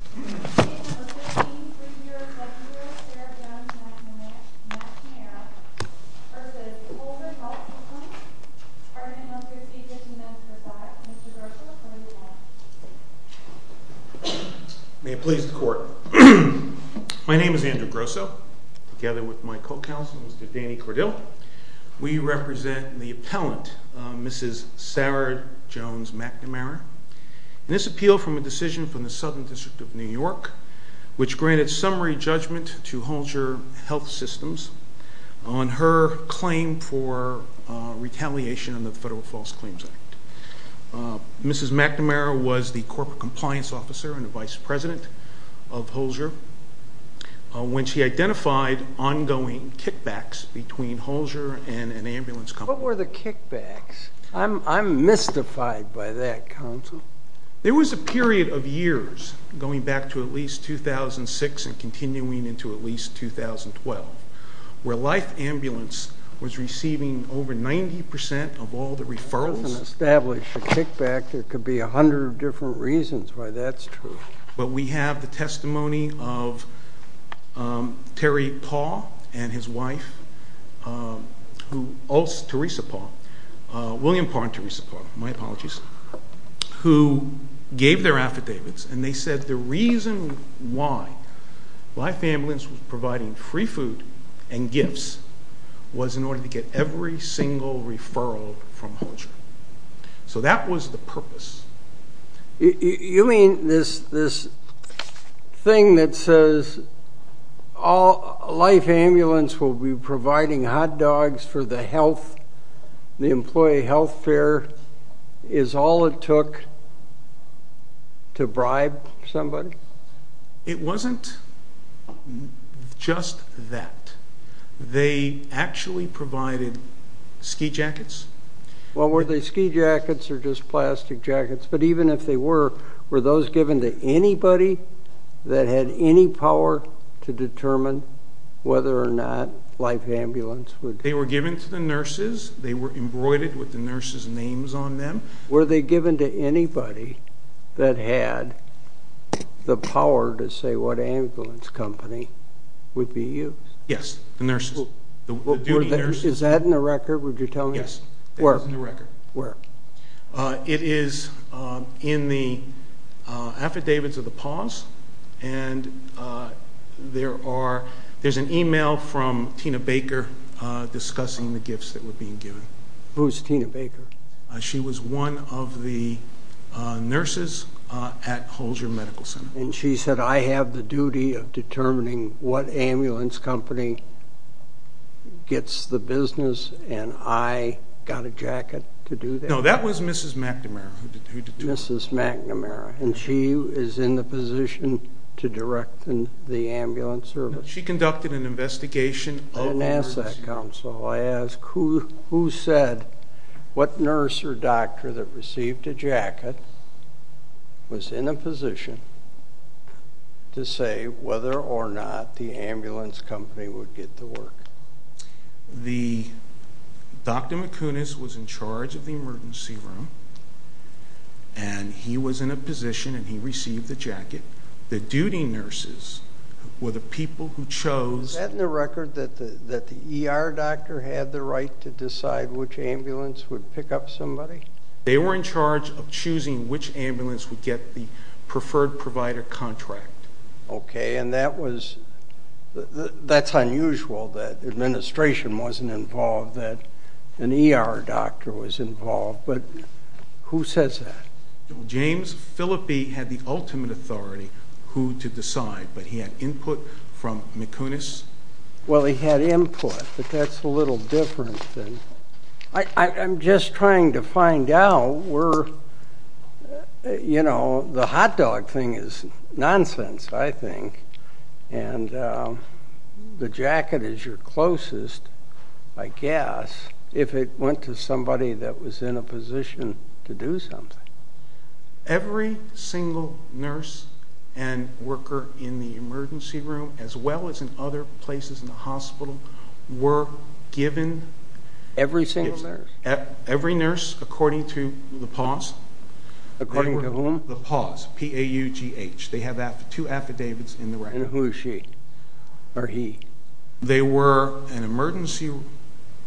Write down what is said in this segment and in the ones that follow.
v. Holzer Health Systems, Ardent Health Procedures, and Medicare-For-That. Mr. Grosso, over to you. May it please the Court. My name is Andrew Grosso, together with my co-counsel, Mr. Danny Cordill. We represent the appellant, Mrs. Sarah Jones-McNamara. This appeal from a decision from the Southern District of New York, which granted summary judgment to Holzer Health Systems on her claim for retaliation on the Federal False Claims Act. Mrs. McNamara was the Corporate Compliance Officer and the Vice President of Holzer when she identified ongoing kickbacks between Holzer and an ambulance company. What were the kickbacks? I'm mystified by that, counsel. There was a period of years, going back to at least 2006 and continuing into at least 2012, where Life Ambulance was receiving over 90% of all the referrals. If it wasn't established a kickback, there could be a hundred different reasons why that's true. But we have the testimony of Terry Paul and his wife, who also, Theresa Paul, William Paul and Theresa Paul, my apologies, who gave their affidavits, and they said the reason why Life Ambulance was providing free food and gifts was in order to get every single referral from Holzer. So that was the purpose. You mean this thing that says Life Ambulance will be providing hot dogs for the health, the employee health fair, is all it took to bribe somebody? It wasn't just that. They actually provided ski jackets. Well, were they ski jackets or just plastic jackets? But even if they were, were those given to anybody that had any power to determine whether or not Life Ambulance would... They were given to the nurses. They were embroidered with the nurses' names on them. Were they given to anybody that had the power to say what ambulance company would be used? Yes, the nurses. Is that in the record? Would you tell me? Yes, that is in the record. Where? It is in the affidavits of the Paws, and there's an email from Tina Baker discussing the gifts that were being given. Who's Tina Baker? She was one of the nurses at Holzer Medical Center. And she said, I have the duty of determining what ambulance company gets the business, and I got a jacket to do that. No, that was Mrs. McNamara. Mrs. McNamara, and she is in the position to direct the ambulance service. She conducted an investigation. I didn't ask that, Counsel. I ask, who said what nurse or doctor that received a jacket was in a position to say whether or not the ambulance company would get to work? Dr. McCunish was in charge of the emergency room, and he was in a position, and he received the jacket. The duty nurses were the people who chose... The doctor had the right to decide which ambulance would pick up somebody? They were in charge of choosing which ambulance would get the preferred provider contract. Okay, and that's unusual that administration wasn't involved, that an ER doctor was involved. But who says that? James Phillippe had the ultimate authority who to decide, but he had input from McCunish. Well, he had input, but that's a little different. I'm just trying to find out where, you know, the hot dog thing is nonsense, I think, and the jacket is your closest, I guess, if it went to somebody that was in a position to do something. Every single nurse and worker in the emergency room, as well as in other places in the hospital, were given... Every single nurse? Every nurse, according to the PAWS. According to whom? The PAWS, P-A-U-G-H. They have two affidavits in the record. And who is she? Or he? They were an emergency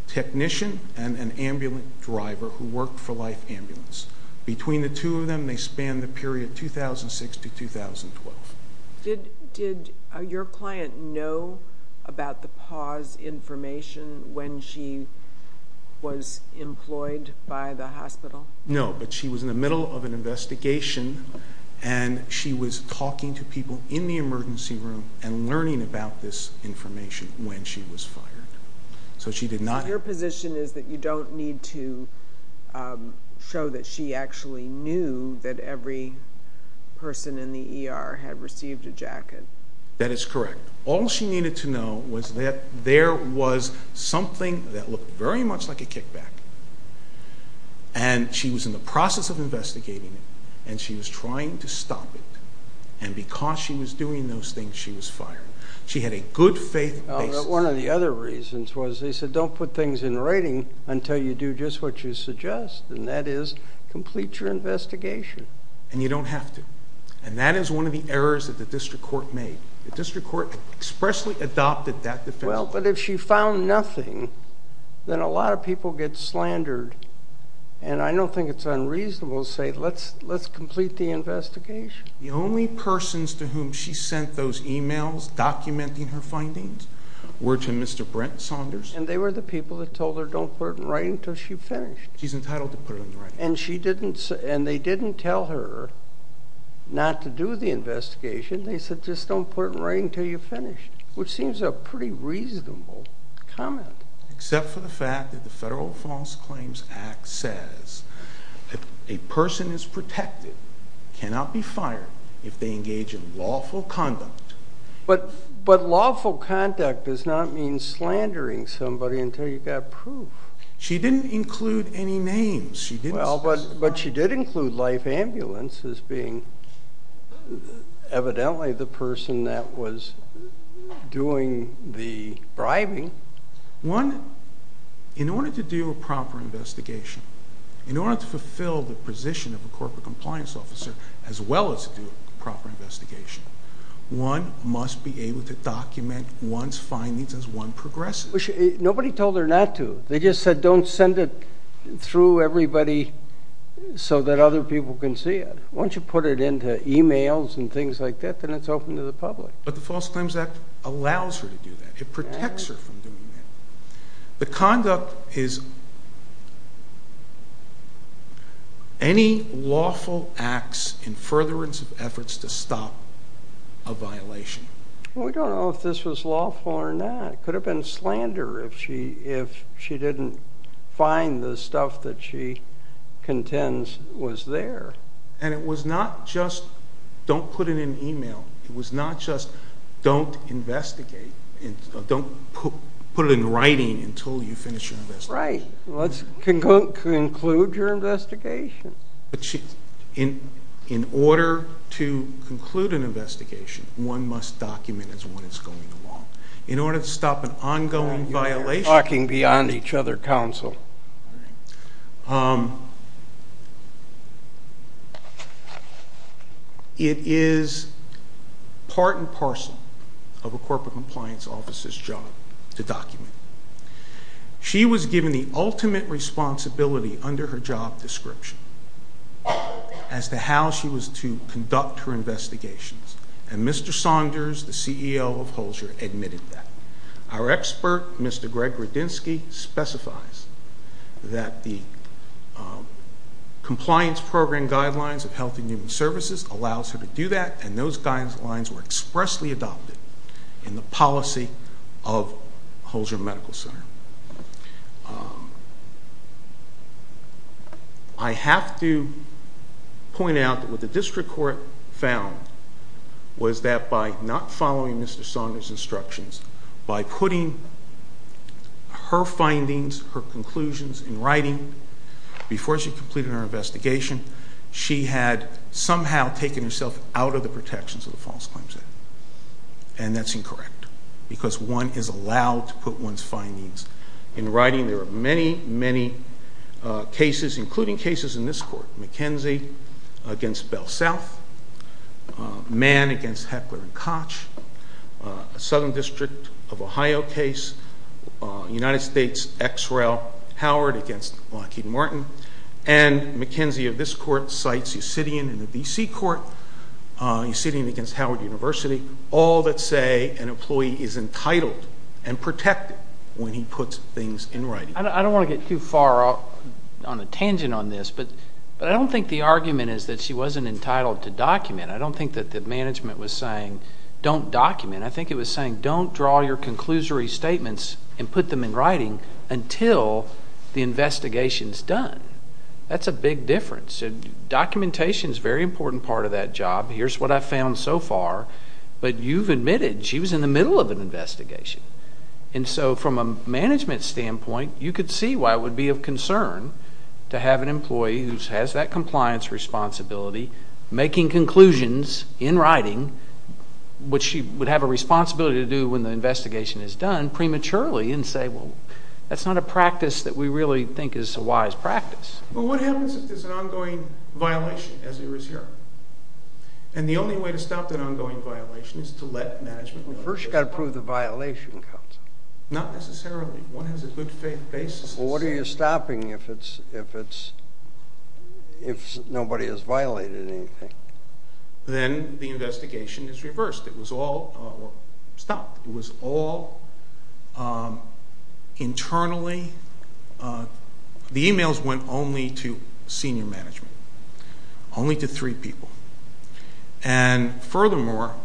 technician and an ambulance driver who worked for Life Ambulance. Between the two of them, they spanned the period 2006 to 2012. Did your client know about the PAWS information when she was employed by the hospital? No, but she was in the middle of an investigation, and she was talking to people in the emergency room and learning about this information when she was fired. So she did not... So your position is that you don't need to show that she actually knew that every person in the ER had received a jacket? That is correct. All she needed to know was that there was something that looked very much like a kickback, and she was in the process of investigating it, and she was trying to stop it. And because she was doing those things, she was fired. She had a good faith basis. One of the other reasons was they said don't put things in writing until you do just what you suggest, and that is complete your investigation. And you don't have to. And that is one of the errors that the district court made. The district court expressly adopted that defense. Well, but if she found nothing, then a lot of people get slandered, and I don't think it's unreasonable to say let's complete the investigation. The only persons to whom she sent those e-mails documenting her findings were to Mr. Brent Saunders. And they were the people that told her don't put it in writing until she finished. She's entitled to put it in writing. And they didn't tell her not to do the investigation. They said just don't put it in writing until you finish, which seems a pretty reasonable comment. Except for the fact that the Federal False Claims Act says a person is protected, cannot be fired if they engage in lawful conduct. But lawful conduct does not mean slandering somebody until you've got proof. She didn't include any names. But she did include life ambulance as being evidently the person that was doing the bribing. One, in order to do a proper investigation, in order to fulfill the position of a corporate compliance officer as well as do a proper investigation, one must be able to document one's findings as one progresses. Nobody told her not to. They just said don't send it through everybody so that other people can see it. Once you put it into e-mails and things like that, then it's open to the public. But the False Claims Act allows her to do that. It protects her from doing that. The conduct is any lawful acts in furtherance of efforts to stop a violation. We don't know if this was lawful or not. It could have been slander if she didn't find the stuff that she contends was there. And it was not just don't put it in e-mail. It was not just don't investigate. Don't put it in writing until you finish your investigation. Right. Let's conclude your investigation. In order to conclude an investigation, one must document as one is going along. In order to stop an ongoing violation. You're talking beyond each other, counsel. It is part and parcel of a corporate compliance officer's job to document. She was given the ultimate responsibility under her job description as to how she was to conduct her investigations. And Mr. Saunders, the CEO of Holzer, admitted that. Our expert, Mr. Greg Radinsky, specifies that the compliance program guidelines of Health and Human Services allows her to do that, and those guidelines were expressly adopted in the policy of Holzer Medical Center. I have to point out that what the district court found was that by not following Mr. Saunders' instructions, by putting her findings, her conclusions in writing before she completed her investigation, she had somehow taken herself out of the protections of the False Claims Act. And that's incorrect. Because one is allowed to put one's findings in writing. There are many, many cases, including cases in this court. McKenzie against Bell South. Mann against Heckler and Koch. Southern District of Ohio case. United States X-Rail Howard against Lockheed Martin. And McKenzie of this court cites Yossidian in the B.C. court. Yossidian against Howard University. All that say an employee is entitled and protected when he puts things in writing. I don't want to get too far on a tangent on this, but I don't think the argument is that she wasn't entitled to document. I don't think that the management was saying don't document. I think it was saying don't draw your conclusory statements and put them in writing until the investigation is done. That's a big difference. Documentation is a very important part of that job. Here's what I've found so far. But you've admitted she was in the middle of an investigation. And so from a management standpoint, you could see why it would be of concern to have an employee who has that compliance responsibility making conclusions in writing, which she would have a responsibility to do when the investigation is done, prematurely, and say, well, that's not a practice that we really think is a wise practice. Well, what happens if there's an ongoing violation, as there is here? And the only way to stop an ongoing violation is to let management know. First you've got to prove the violation comes. Not necessarily. One has a good faith basis. Well, what are you stopping if nobody has violated anything? Then the investigation is reversed. It was all stopped. Internally, the e-mails went only to senior management, only to three people. And furthermore,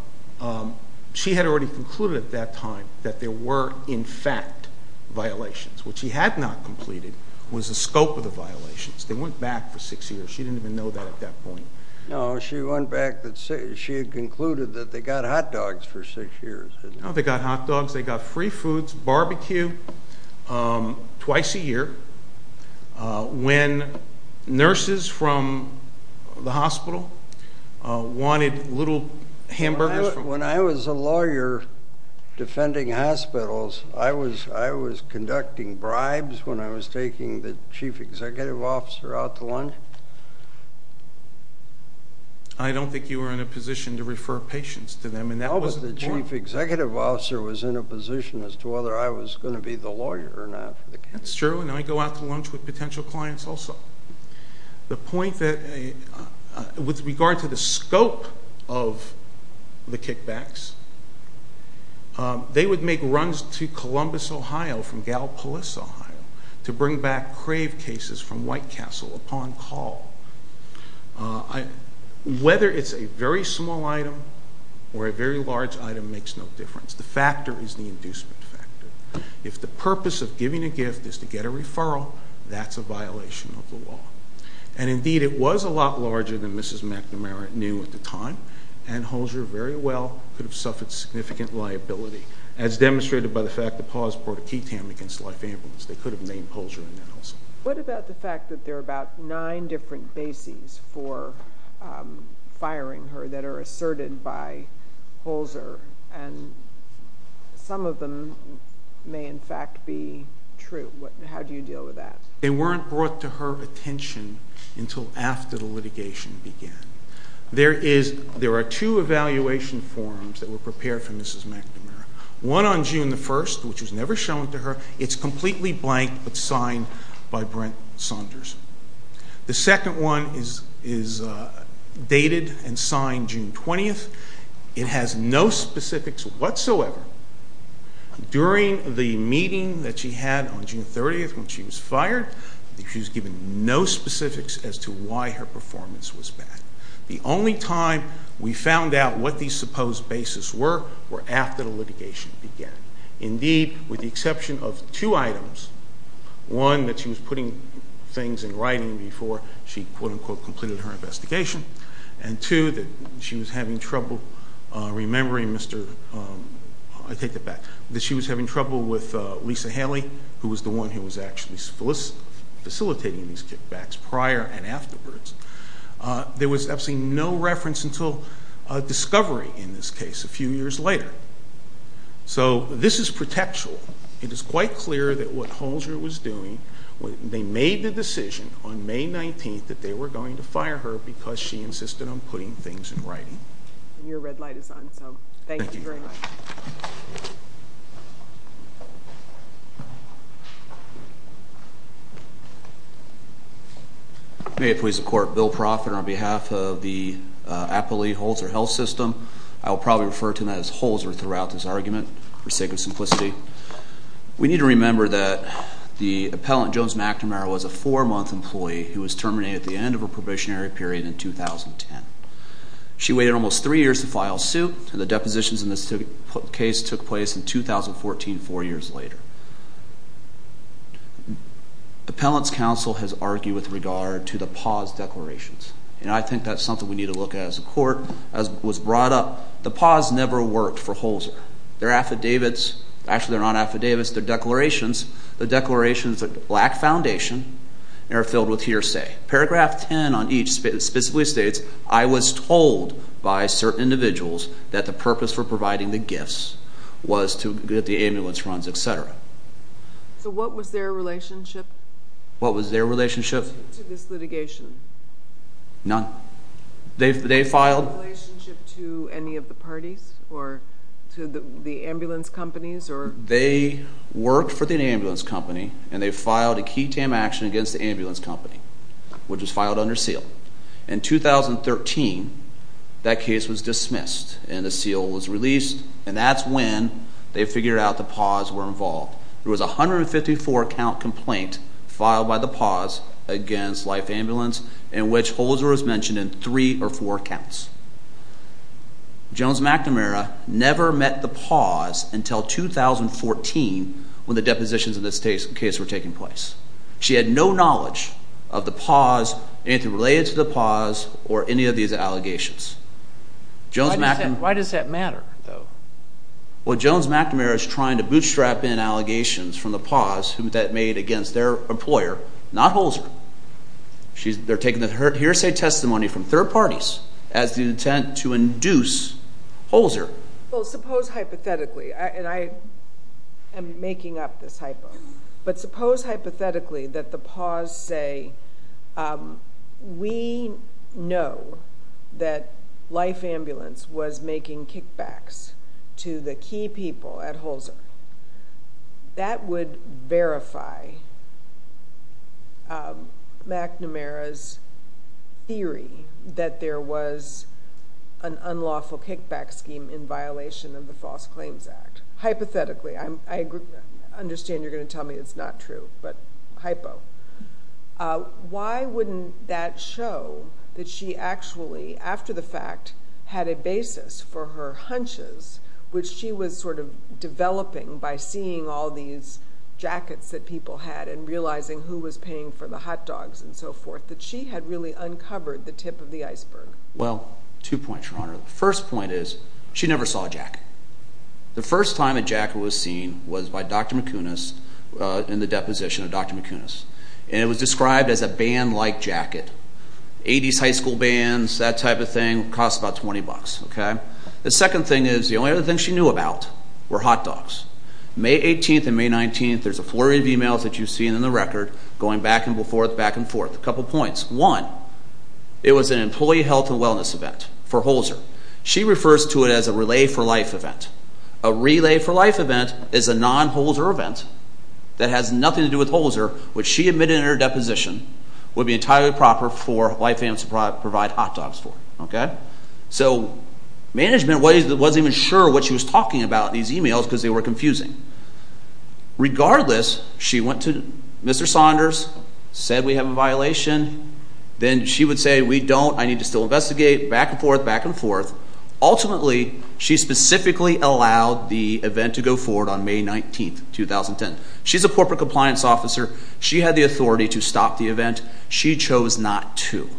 she had already concluded at that time that there were, in fact, violations. What she had not completed was the scope of the violations. They went back for six years. She didn't even know that at that point. No, she went back. She had concluded that they got hot dogs for six years. They got hot dogs. They got free foods, barbecue, twice a year, when nurses from the hospital wanted little hamburgers. When I was a lawyer defending hospitals, I was conducting bribes when I was taking the chief executive officer out to lunch. I don't think you were in a position to refer patients to them. No, but the chief executive officer was in a position as to whether I was going to be the lawyer or not. That's true, and I go out to lunch with potential clients also. The point that with regard to the scope of the kickbacks, they would make runs to Columbus, Ohio, from Galpolis, Ohio, to bring back craved cases from White Castle upon call. Whether it's a very small item or a very large item makes no difference. The factor is the inducement factor. If the purpose of giving a gift is to get a referral, that's a violation of the law. Indeed, it was a lot larger than Mrs. McNamara knew at the time, and Holger very well could have suffered significant liability, as demonstrated by the fact that Paul has brought a key tam against life ambulance. They could have named Holger in that also. What about the fact that there are about nine different bases for firing her that are asserted by Holger, and some of them may in fact be true? How do you deal with that? They weren't brought to her attention until after the litigation began. There are two evaluation forms that were prepared for Mrs. McNamara. One on June 1st, which was never shown to her. It's completely blank, but signed by Brent Saunders. The second one is dated and signed June 20th. It has no specifics whatsoever. During the meeting that she had on June 30th when she was fired, she was given no specifics as to why her performance was bad. The only time we found out what these supposed bases were were after the litigation began. Indeed, with the exception of two items. One, that she was putting things in writing before she, quote-unquote, completed her investigation, and two, that she was having trouble remembering Mr. I take that back, that she was having trouble with Lisa Haley, who was the one who was actually facilitating these kickbacks prior and afterwards. There was absolutely no reference until discovery in this case a few years later. So this is protectual. It is quite clear that what Holzer was doing, they made the decision on May 19th that they were going to fire her because she insisted on putting things in writing. Your red light is on, so thank you very much. May it please the Court, Bill Proffitt on behalf of the Appalachian-Holzer Health System. I will probably refer to him as Holzer throughout this argument for sake of simplicity. We need to remember that the appellant, Jones McNamara, was a four-month employee who was terminated at the end of her probationary period in 2010. She waited almost three years to file suit, and the depositions in this case took place in 2014, four years later. Appellant's counsel has argued with regard to the pause declarations, and I think that's something we need to look at as a court, as was brought up. The pause never worked for Holzer. Their affidavits, actually they're not affidavits, they're declarations. The declarations lack foundation and are filled with hearsay. Paragraph 10 on each specifically states, I was told by certain individuals that the purpose for providing the gifts was to get the ambulance runs, etc. So what was their relationship? What was their relationship? What was their relationship to this litigation? None. Their relationship to any of the parties or to the ambulance companies? They worked for the ambulance company, and they filed a key tam action against the ambulance company, which was filed under seal. In 2013, that case was dismissed, and a seal was released, and that's when they figured out the pause were involved. There was a 154-count complaint filed by the pause against Life Ambulance in which Holzer was mentioned in three or four counts. Jones-McNamara never met the pause until 2014 when the depositions of this case were taking place. She had no knowledge of the pause, anything related to the pause, or any of these allegations. Why does that matter, though? Well, Jones-McNamara is trying to bootstrap in allegations from the pause that made against their employer, not Holzer. They're taking the hearsay testimony from third parties as the intent to induce Holzer. Well, suppose hypothetically, and I am making up this hypo, but suppose hypothetically that the pause say, we know that Life Ambulance was making kickbacks to the key people at Holzer. That would verify McNamara's theory that there was an unlawful kickback scheme in violation of the False Claims Act. Hypothetically, I understand you're going to tell me it's not true, but hypo. Why wouldn't that show that she actually, after the fact, had a basis for her hunches, which she was sort of developing by seeing all these jackets that people had and realizing who was paying for the hot dogs and so forth, that she had really uncovered the tip of the iceberg? Well, two points, Your Honor. The first point is she never saw a jacket. The first time a jacket was seen was by Dr. McInnes in the deposition of Dr. McInnes. And it was described as a band-like jacket. 80s high school bands, that type of thing, cost about 20 bucks. The second thing is the only other thing she knew about were hot dogs. May 18th and May 19th, there's a flurry of emails that you've seen in the record, going back and forth, back and forth. A couple points. One, it was an employee health and wellness event for Holzer. She refers to it as a relay-for-life event. A relay-for-life event is a non-Holzer event that has nothing to do with Holzer, which she admitted in her deposition would be entirely proper for white families to provide hot dogs for. So management wasn't even sure what she was talking about in these emails because they were confusing. Regardless, she went to Mr. Saunders, said we have a violation. Then she would say, we don't, I need to still investigate, back and forth, back and forth. Ultimately, she specifically allowed the event to go forward on May 19th, 2010. She's a corporate compliance officer. She had the authority to stop the event. She chose not to.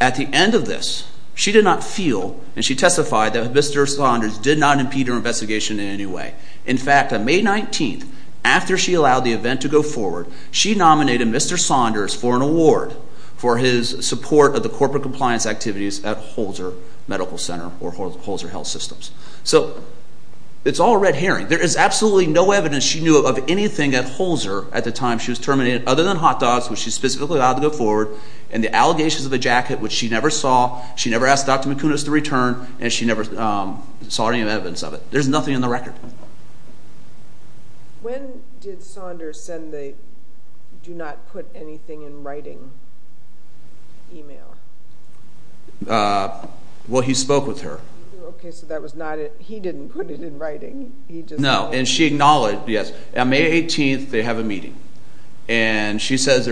At the end of this, she did not feel, and she testified, that Mr. Saunders did not impede her investigation in any way. In fact, on May 19th, after she allowed the event to go forward, she nominated Mr. Saunders for an award for his support of the corporate compliance activities at Holzer Medical Center or Holzer Health Systems. So it's all red herring. There is absolutely no evidence she knew of anything at Holzer at the time she was terminated other than hot dogs, which she specifically allowed to go forward, and the allegations of a jacket, which she never saw. She never asked Dr. McInnes to return, and she never saw any evidence of it. There's nothing in the record. When did Saunders send the do-not-put-anything-in-writing email? Well, he spoke with her. Okay, so he didn't put it in writing. No, and she acknowledged, yes. On May 18th, they have a meeting, and she says,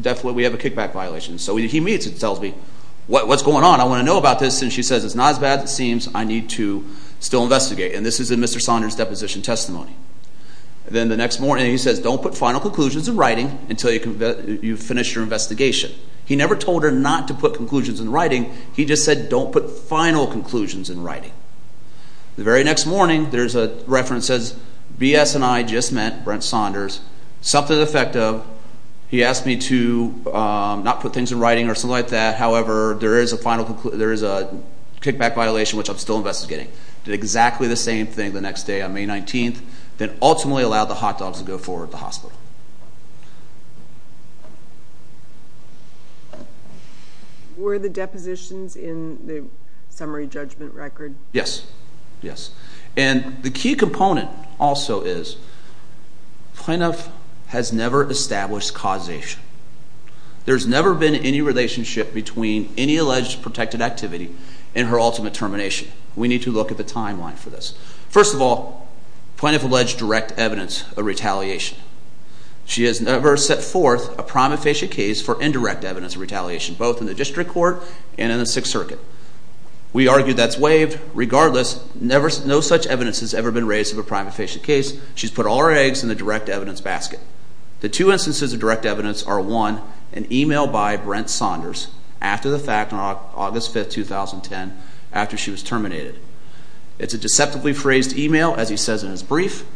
definitely, we have a kickback violation. So he meets and tells me, what's going on? I want to know about this. And she says, it's not as bad as it seems. I need to still investigate. And this is in Mr. Saunders' deposition testimony. Then the next morning, he says, don't put final conclusions in writing until you finish your investigation. He never told her not to put conclusions in writing. He just said, don't put final conclusions in writing. The very next morning, there's a reference that says, B.S. and I just met, Brent Saunders, something to the effect of, he asked me to not put things in writing or something like that. However, there is a kickback violation, which I'm still investigating. Did exactly the same thing the next day on May 19th. Then ultimately allowed the hot dogs to go forward to the hospital. Were the depositions in the summary judgment record? Yes, yes. And the key component also is, PNF has never established causation. There's never been any relationship between any alleged protected activity and her ultimate termination. We need to look at the timeline for this. First of all, PNF alleged direct evidence of retaliation. She has never set forth a prima facie case for indirect evidence of retaliation, both in the district court and in the Sixth Circuit. We argue that's waived. Regardless, no such evidence has ever been raised of a prima facie case. She's put all her eggs in the direct evidence basket. The two instances of direct evidence are, one, an email by Brent Saunders after the fact on August 5th, 2010, after she was terminated. It's a deceptively phrased email, as he says in his brief.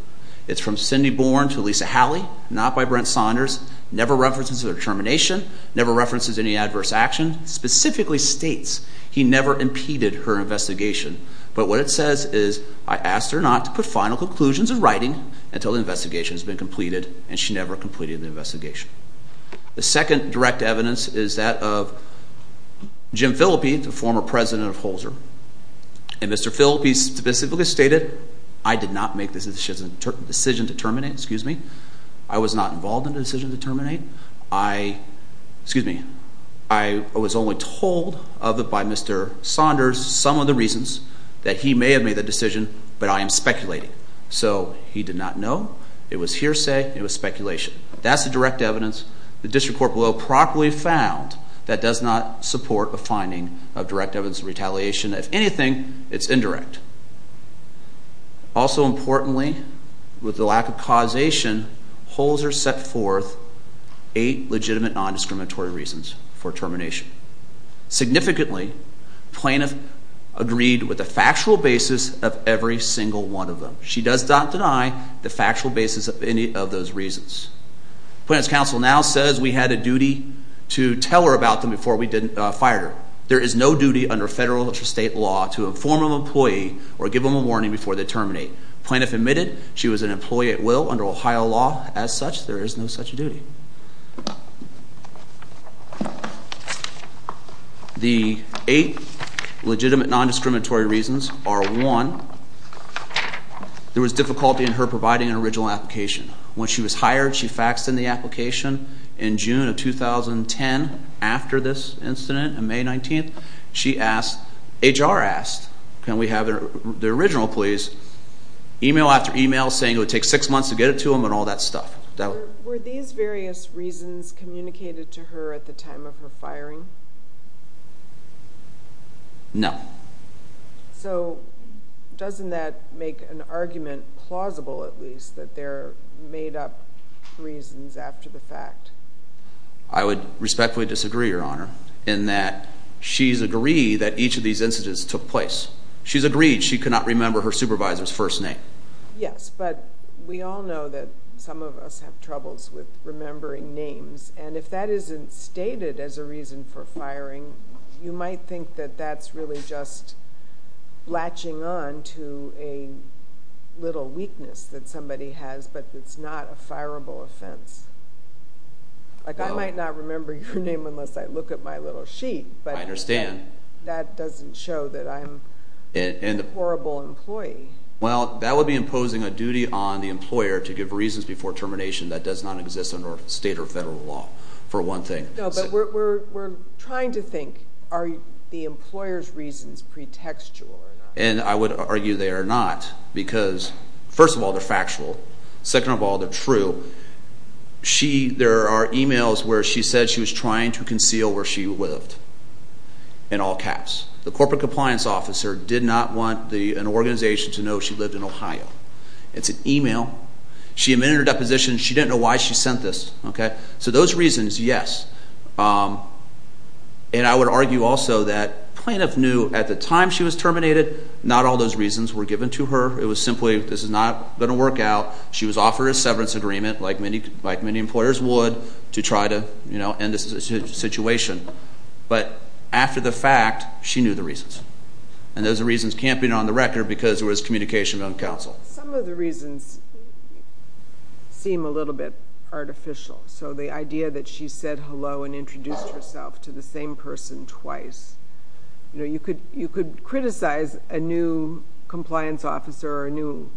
It's from Cindy Bourne to Lisa Halley, not by Brent Saunders. Never references her termination. Never references any adverse action. Specifically states he never impeded her investigation. But what it says is, I asked her not to put final conclusions in writing until the investigation has been completed, and she never completed the investigation. The second direct evidence is that of Jim Phillippe, the former president of Holzer. And Mr. Phillippe specifically stated, I did not make the decision to terminate. Excuse me. I was not involved in the decision to terminate. Excuse me. I was only told of it by Mr. Saunders, some of the reasons that he may have made that decision, but I am speculating. So, he did not know. It was hearsay. It was speculation. That's the direct evidence. The District Court below properly found that does not support a finding of direct evidence of retaliation. If anything, it's indirect. Also importantly, with the lack of causation, Holzer set forth eight legitimate non-discriminatory reasons for termination. Significantly, plaintiff agreed with the factual basis of every single one of them. She does not deny the factual basis of any of those reasons. Plaintiff's counsel now says we had a duty to tell her about them before we fired her. There is no duty under federal or state law to inform an employee or give them a warning before they terminate. Plaintiff admitted she was an employee at will under Ohio law. As such, there is no such duty. The eight legitimate non-discriminatory reasons are one, there was difficulty in her providing an original application. When she was hired, she faxed in the application in June of 2010 after this incident on May 19th. She asked, HR asked, can we have the original please? Email after email saying it would take six months to get it to them and all that stuff. Were these various reasons communicated to her at the time of her firing? No. So doesn't that make an argument plausible at least that they're made up reasons after the fact? I would respectfully disagree, Your Honor, in that she's agreed that each of these incidents took place. She's agreed she cannot remember her supervisor's first name. Yes, but we all know that some of us have troubles with remembering names. And if that isn't stated as a reason for firing, you might think that that's really just latching on to a little weakness that somebody has but it's not a fireable offense. Like I might not remember your name unless I look at my little sheet. I understand. But that doesn't show that I'm a horrible employee. Well, that would be imposing a duty on the employer to give reasons before termination that does not exist under state or federal law for one thing. No, but we're trying to think are the employer's reasons pretextual or not? And I would argue they are not because, first of all, they're factual. Second of all, they're true. There are emails where she said she was trying to conceal where she lived in all caps. The corporate compliance officer did not want an organization to know she lived in Ohio. It's an email. She admitted her deposition. She didn't know why she sent this. So those reasons, yes. And I would argue also that plaintiff knew at the time she was terminated not all those reasons were given to her. It was simply this is not going to work out. She was offered a severance agreement like many employers would to try to end this situation. But after the fact, she knew the reasons. And those reasons can't be on the record because it was communication on counsel. Some of the reasons seem a little bit artificial. So the idea that she said hello and introduced herself to the same person twice. You could criticize a new compliance officer or a new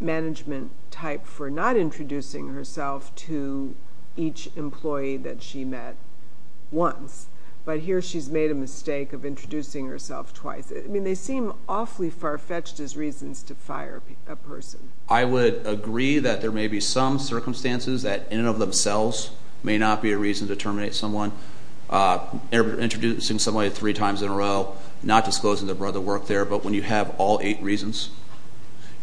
management type for not introducing herself to each employee that she met once. But here she's made a mistake of introducing herself twice. I mean they seem awfully far-fetched as reasons to fire a person. I would agree that there may be some circumstances that in and of themselves may not be a reason to terminate someone. Introducing somebody three times in a row, not disclosing their brother worked there. But when you have all eight reasons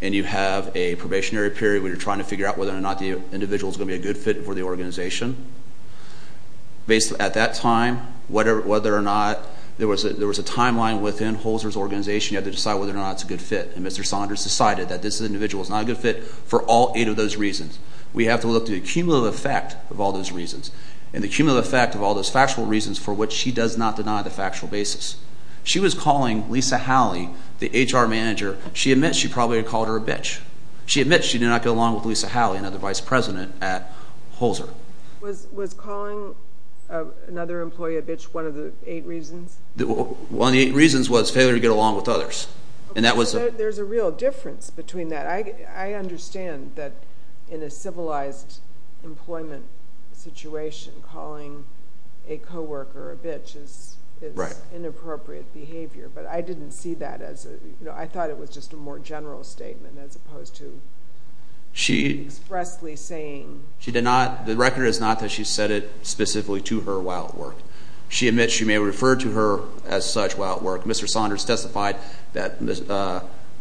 and you have a probationary period where you're trying to figure out whether or not the individual is going to be a good fit for the organization, basically at that time whether or not there was a timeline within Holzer's organization, you had to decide whether or not it's a good fit. And Mr. Saunders decided that this individual is not a good fit for all eight of those reasons. We have to look to the cumulative effect of all those reasons. And the cumulative effect of all those factual reasons for which she does not deny the factual basis. She was calling Lisa Halley, the HR manager, she admits she probably called her a bitch. She admits she did not get along with Lisa Halley, another vice president at Holzer. Was calling another employee a bitch one of the eight reasons? One of the eight reasons was failure to get along with others. There's a real difference between that. I understand that in a civilized employment situation, calling a coworker a bitch is inappropriate behavior. But I didn't see that as a, I thought it was just a more general statement as opposed to expressly saying. The record is not that she said it specifically to her while at work. She admits she may have referred to her as such while at work. Mr. Saunders testified that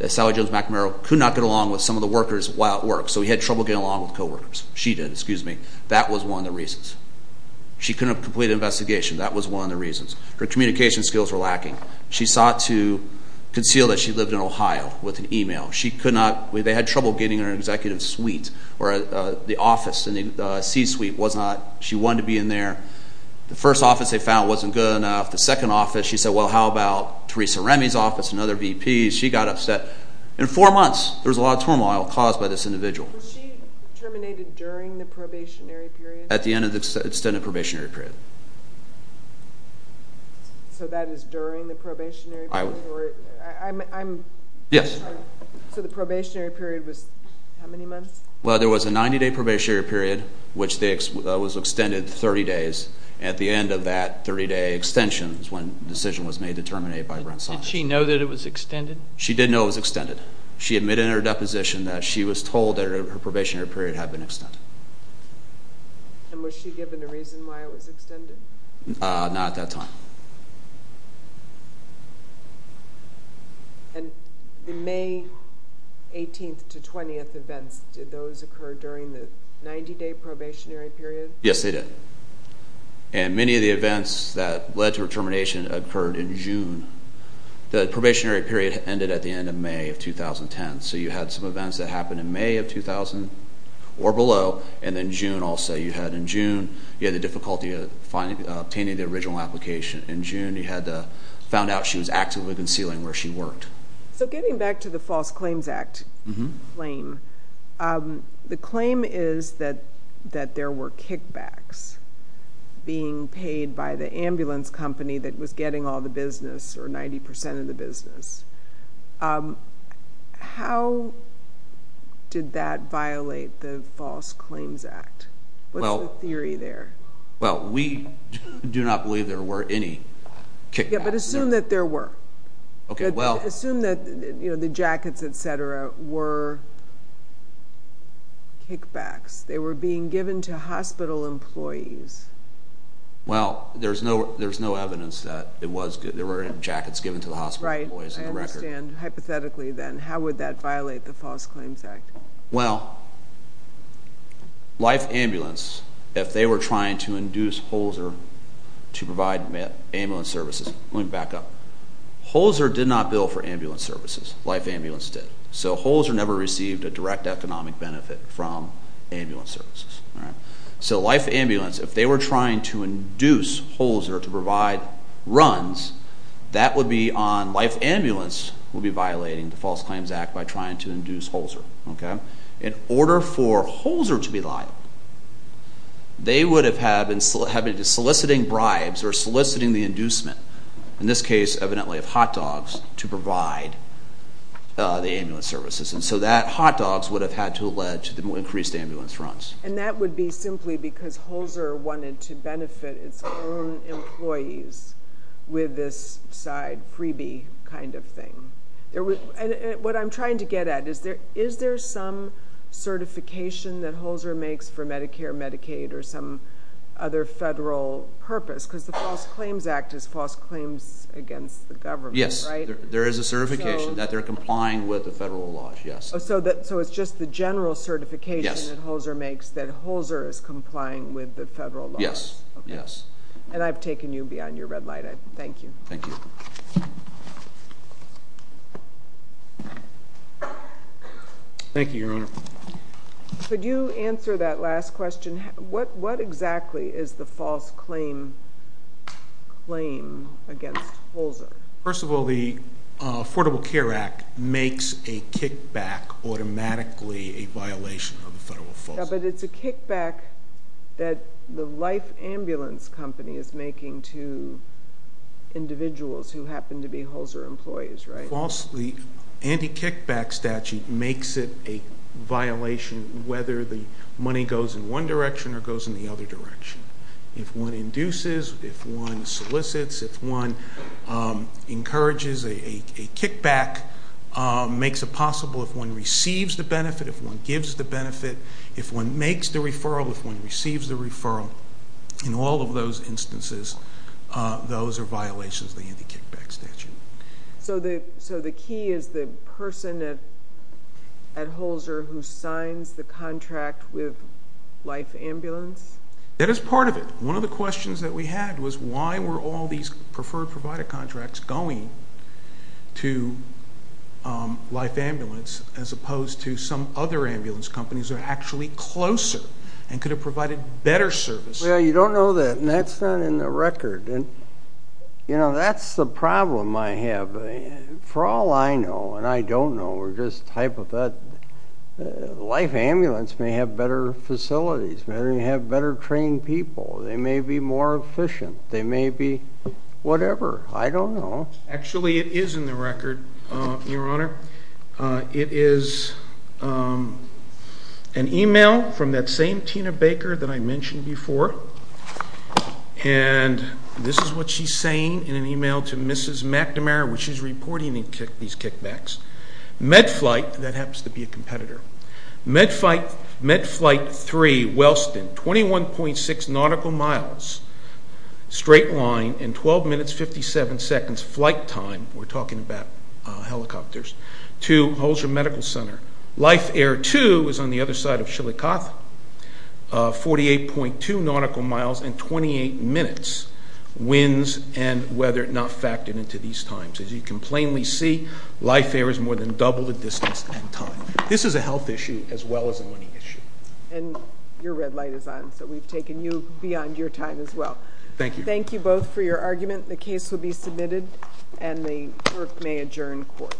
Sally Jones-McNamara could not get along with some of the workers while at work. So he had trouble getting along with coworkers. She did, excuse me. That was one of the reasons. She couldn't complete an investigation. That was one of the reasons. Her communication skills were lacking. She sought to conceal that she lived in Ohio with an email. She could not, they had trouble getting her in an executive suite or the office in the C-suite. She wanted to be in there. The first office they found wasn't good enough. The second office, she said, well, how about Theresa Remy's office and other VPs? She got upset. In four months, there was a lot of turmoil caused by this individual. Was she terminated during the probationary period? At the end of the extended probationary period. So that is during the probationary period? Yes. So the probationary period was how many months? Well, there was a 90-day probationary period, which was extended 30 days. At the end of that 30-day extension is when the decision was made to terminate by Brent Saunders. Did she know that it was extended? She did know it was extended. She admitted in her deposition that she was told that her probationary period had been extended. And was she given a reason why it was extended? Not at that time. And the May 18th to 20th events, did those occur during the 90-day probationary period? Yes, they did. And many of the events that led to her termination occurred in June. The probationary period ended at the end of May of 2010. So you had some events that happened in May of 2000 or below, and then June also. You had the difficulty obtaining the original application in June. You found out she was actively concealing where she worked. So getting back to the False Claims Act claim, the claim is that there were kickbacks being paid by the ambulance company that was getting all the business or 90% of the business. How did that violate the False Claims Act? What's the theory there? Well, we do not believe there were any kickbacks. But assume that there were. Assume that the jackets, et cetera, were kickbacks. They were being given to hospital employees. Well, there's no evidence that there were jackets given to the hospital employees. Right, I understand. Hypothetically, then, how would that violate the False Claims Act? Well, Life Ambulance, if they were trying to induce Holzer to provide ambulance services. Let me back up. Holzer did not bill for ambulance services. Life Ambulance did. So Holzer never received a direct economic benefit from ambulance services. So Life Ambulance, if they were trying to induce Holzer to provide runs, that would be on Life Ambulance would be violating the False Claims Act by trying to induce Holzer. In order for Holzer to be liable, they would have been soliciting bribes or soliciting the inducement, in this case, evidently of hot dogs, to provide the ambulance services. And so that hot dogs would have had to have led to increased ambulance runs. And that would be simply because Holzer wanted to benefit its own employees with this side freebie kind of thing. What I'm trying to get at is, is there some certification that Holzer makes for Medicare, Medicaid, or some other federal purpose? Because the False Claims Act is false claims against the government, right? Yes, there is a certification that they're complying with the federal laws, yes. So it's just the general certification that Holzer makes that Holzer is complying with the federal laws? Yes, yes. And I've taken you beyond your red light. Thank you. Thank you. Thank you, Your Honor. Could you answer that last question? What exactly is the false claim against Holzer? First of all, the Affordable Care Act makes a kickback automatically a violation of the federal false claim. But it's a kickback that the life ambulance company is making to individuals who happen to be Holzer employees, right? The anti-kickback statute makes it a violation whether the money goes in one direction or goes in the other direction. If one induces, if one solicits, if one encourages a kickback, makes it possible, if one receives the benefit, if one gives the benefit, if one makes the referral, if one receives the referral, in all of those instances, those are violations of the anti-kickback statute. So the key is the person at Holzer who signs the contract with life ambulance? That is part of it. One of the questions that we had was why were all these preferred provider contracts going to life ambulance as opposed to some other ambulance companies that are actually closer and could have provided better service? Well, you don't know that, and that's not in the record. And, you know, that's the problem I have. For all I know, and I don't know, we're just type of that. Life ambulance may have better facilities. They may have better trained people. They may be more efficient. They may be whatever. I don't know. Actually, it is in the record, Your Honor. It is an e-mail from that same Tina Baker that I mentioned before, and this is what she's saying in an e-mail to Mrs. McNamara when she's reporting these kickbacks. MedFlight, that happens to be a competitor. MedFlight 3, Wellston, 21.6 nautical miles, straight line, and 12 minutes, 57 seconds flight time, we're talking about helicopters, to Holzer Medical Center. Life Air 2 is on the other side of Shillikoth, 48.2 nautical miles in 28 minutes, winds and weather not factored into these times. As you can plainly see, Life Air is more than double the distance and time. This is a health issue as well as a money issue. And your red light is on, so we've taken you beyond your time as well. Thank you. Thank you both for your argument. The case will be submitted, and the clerk may adjourn court.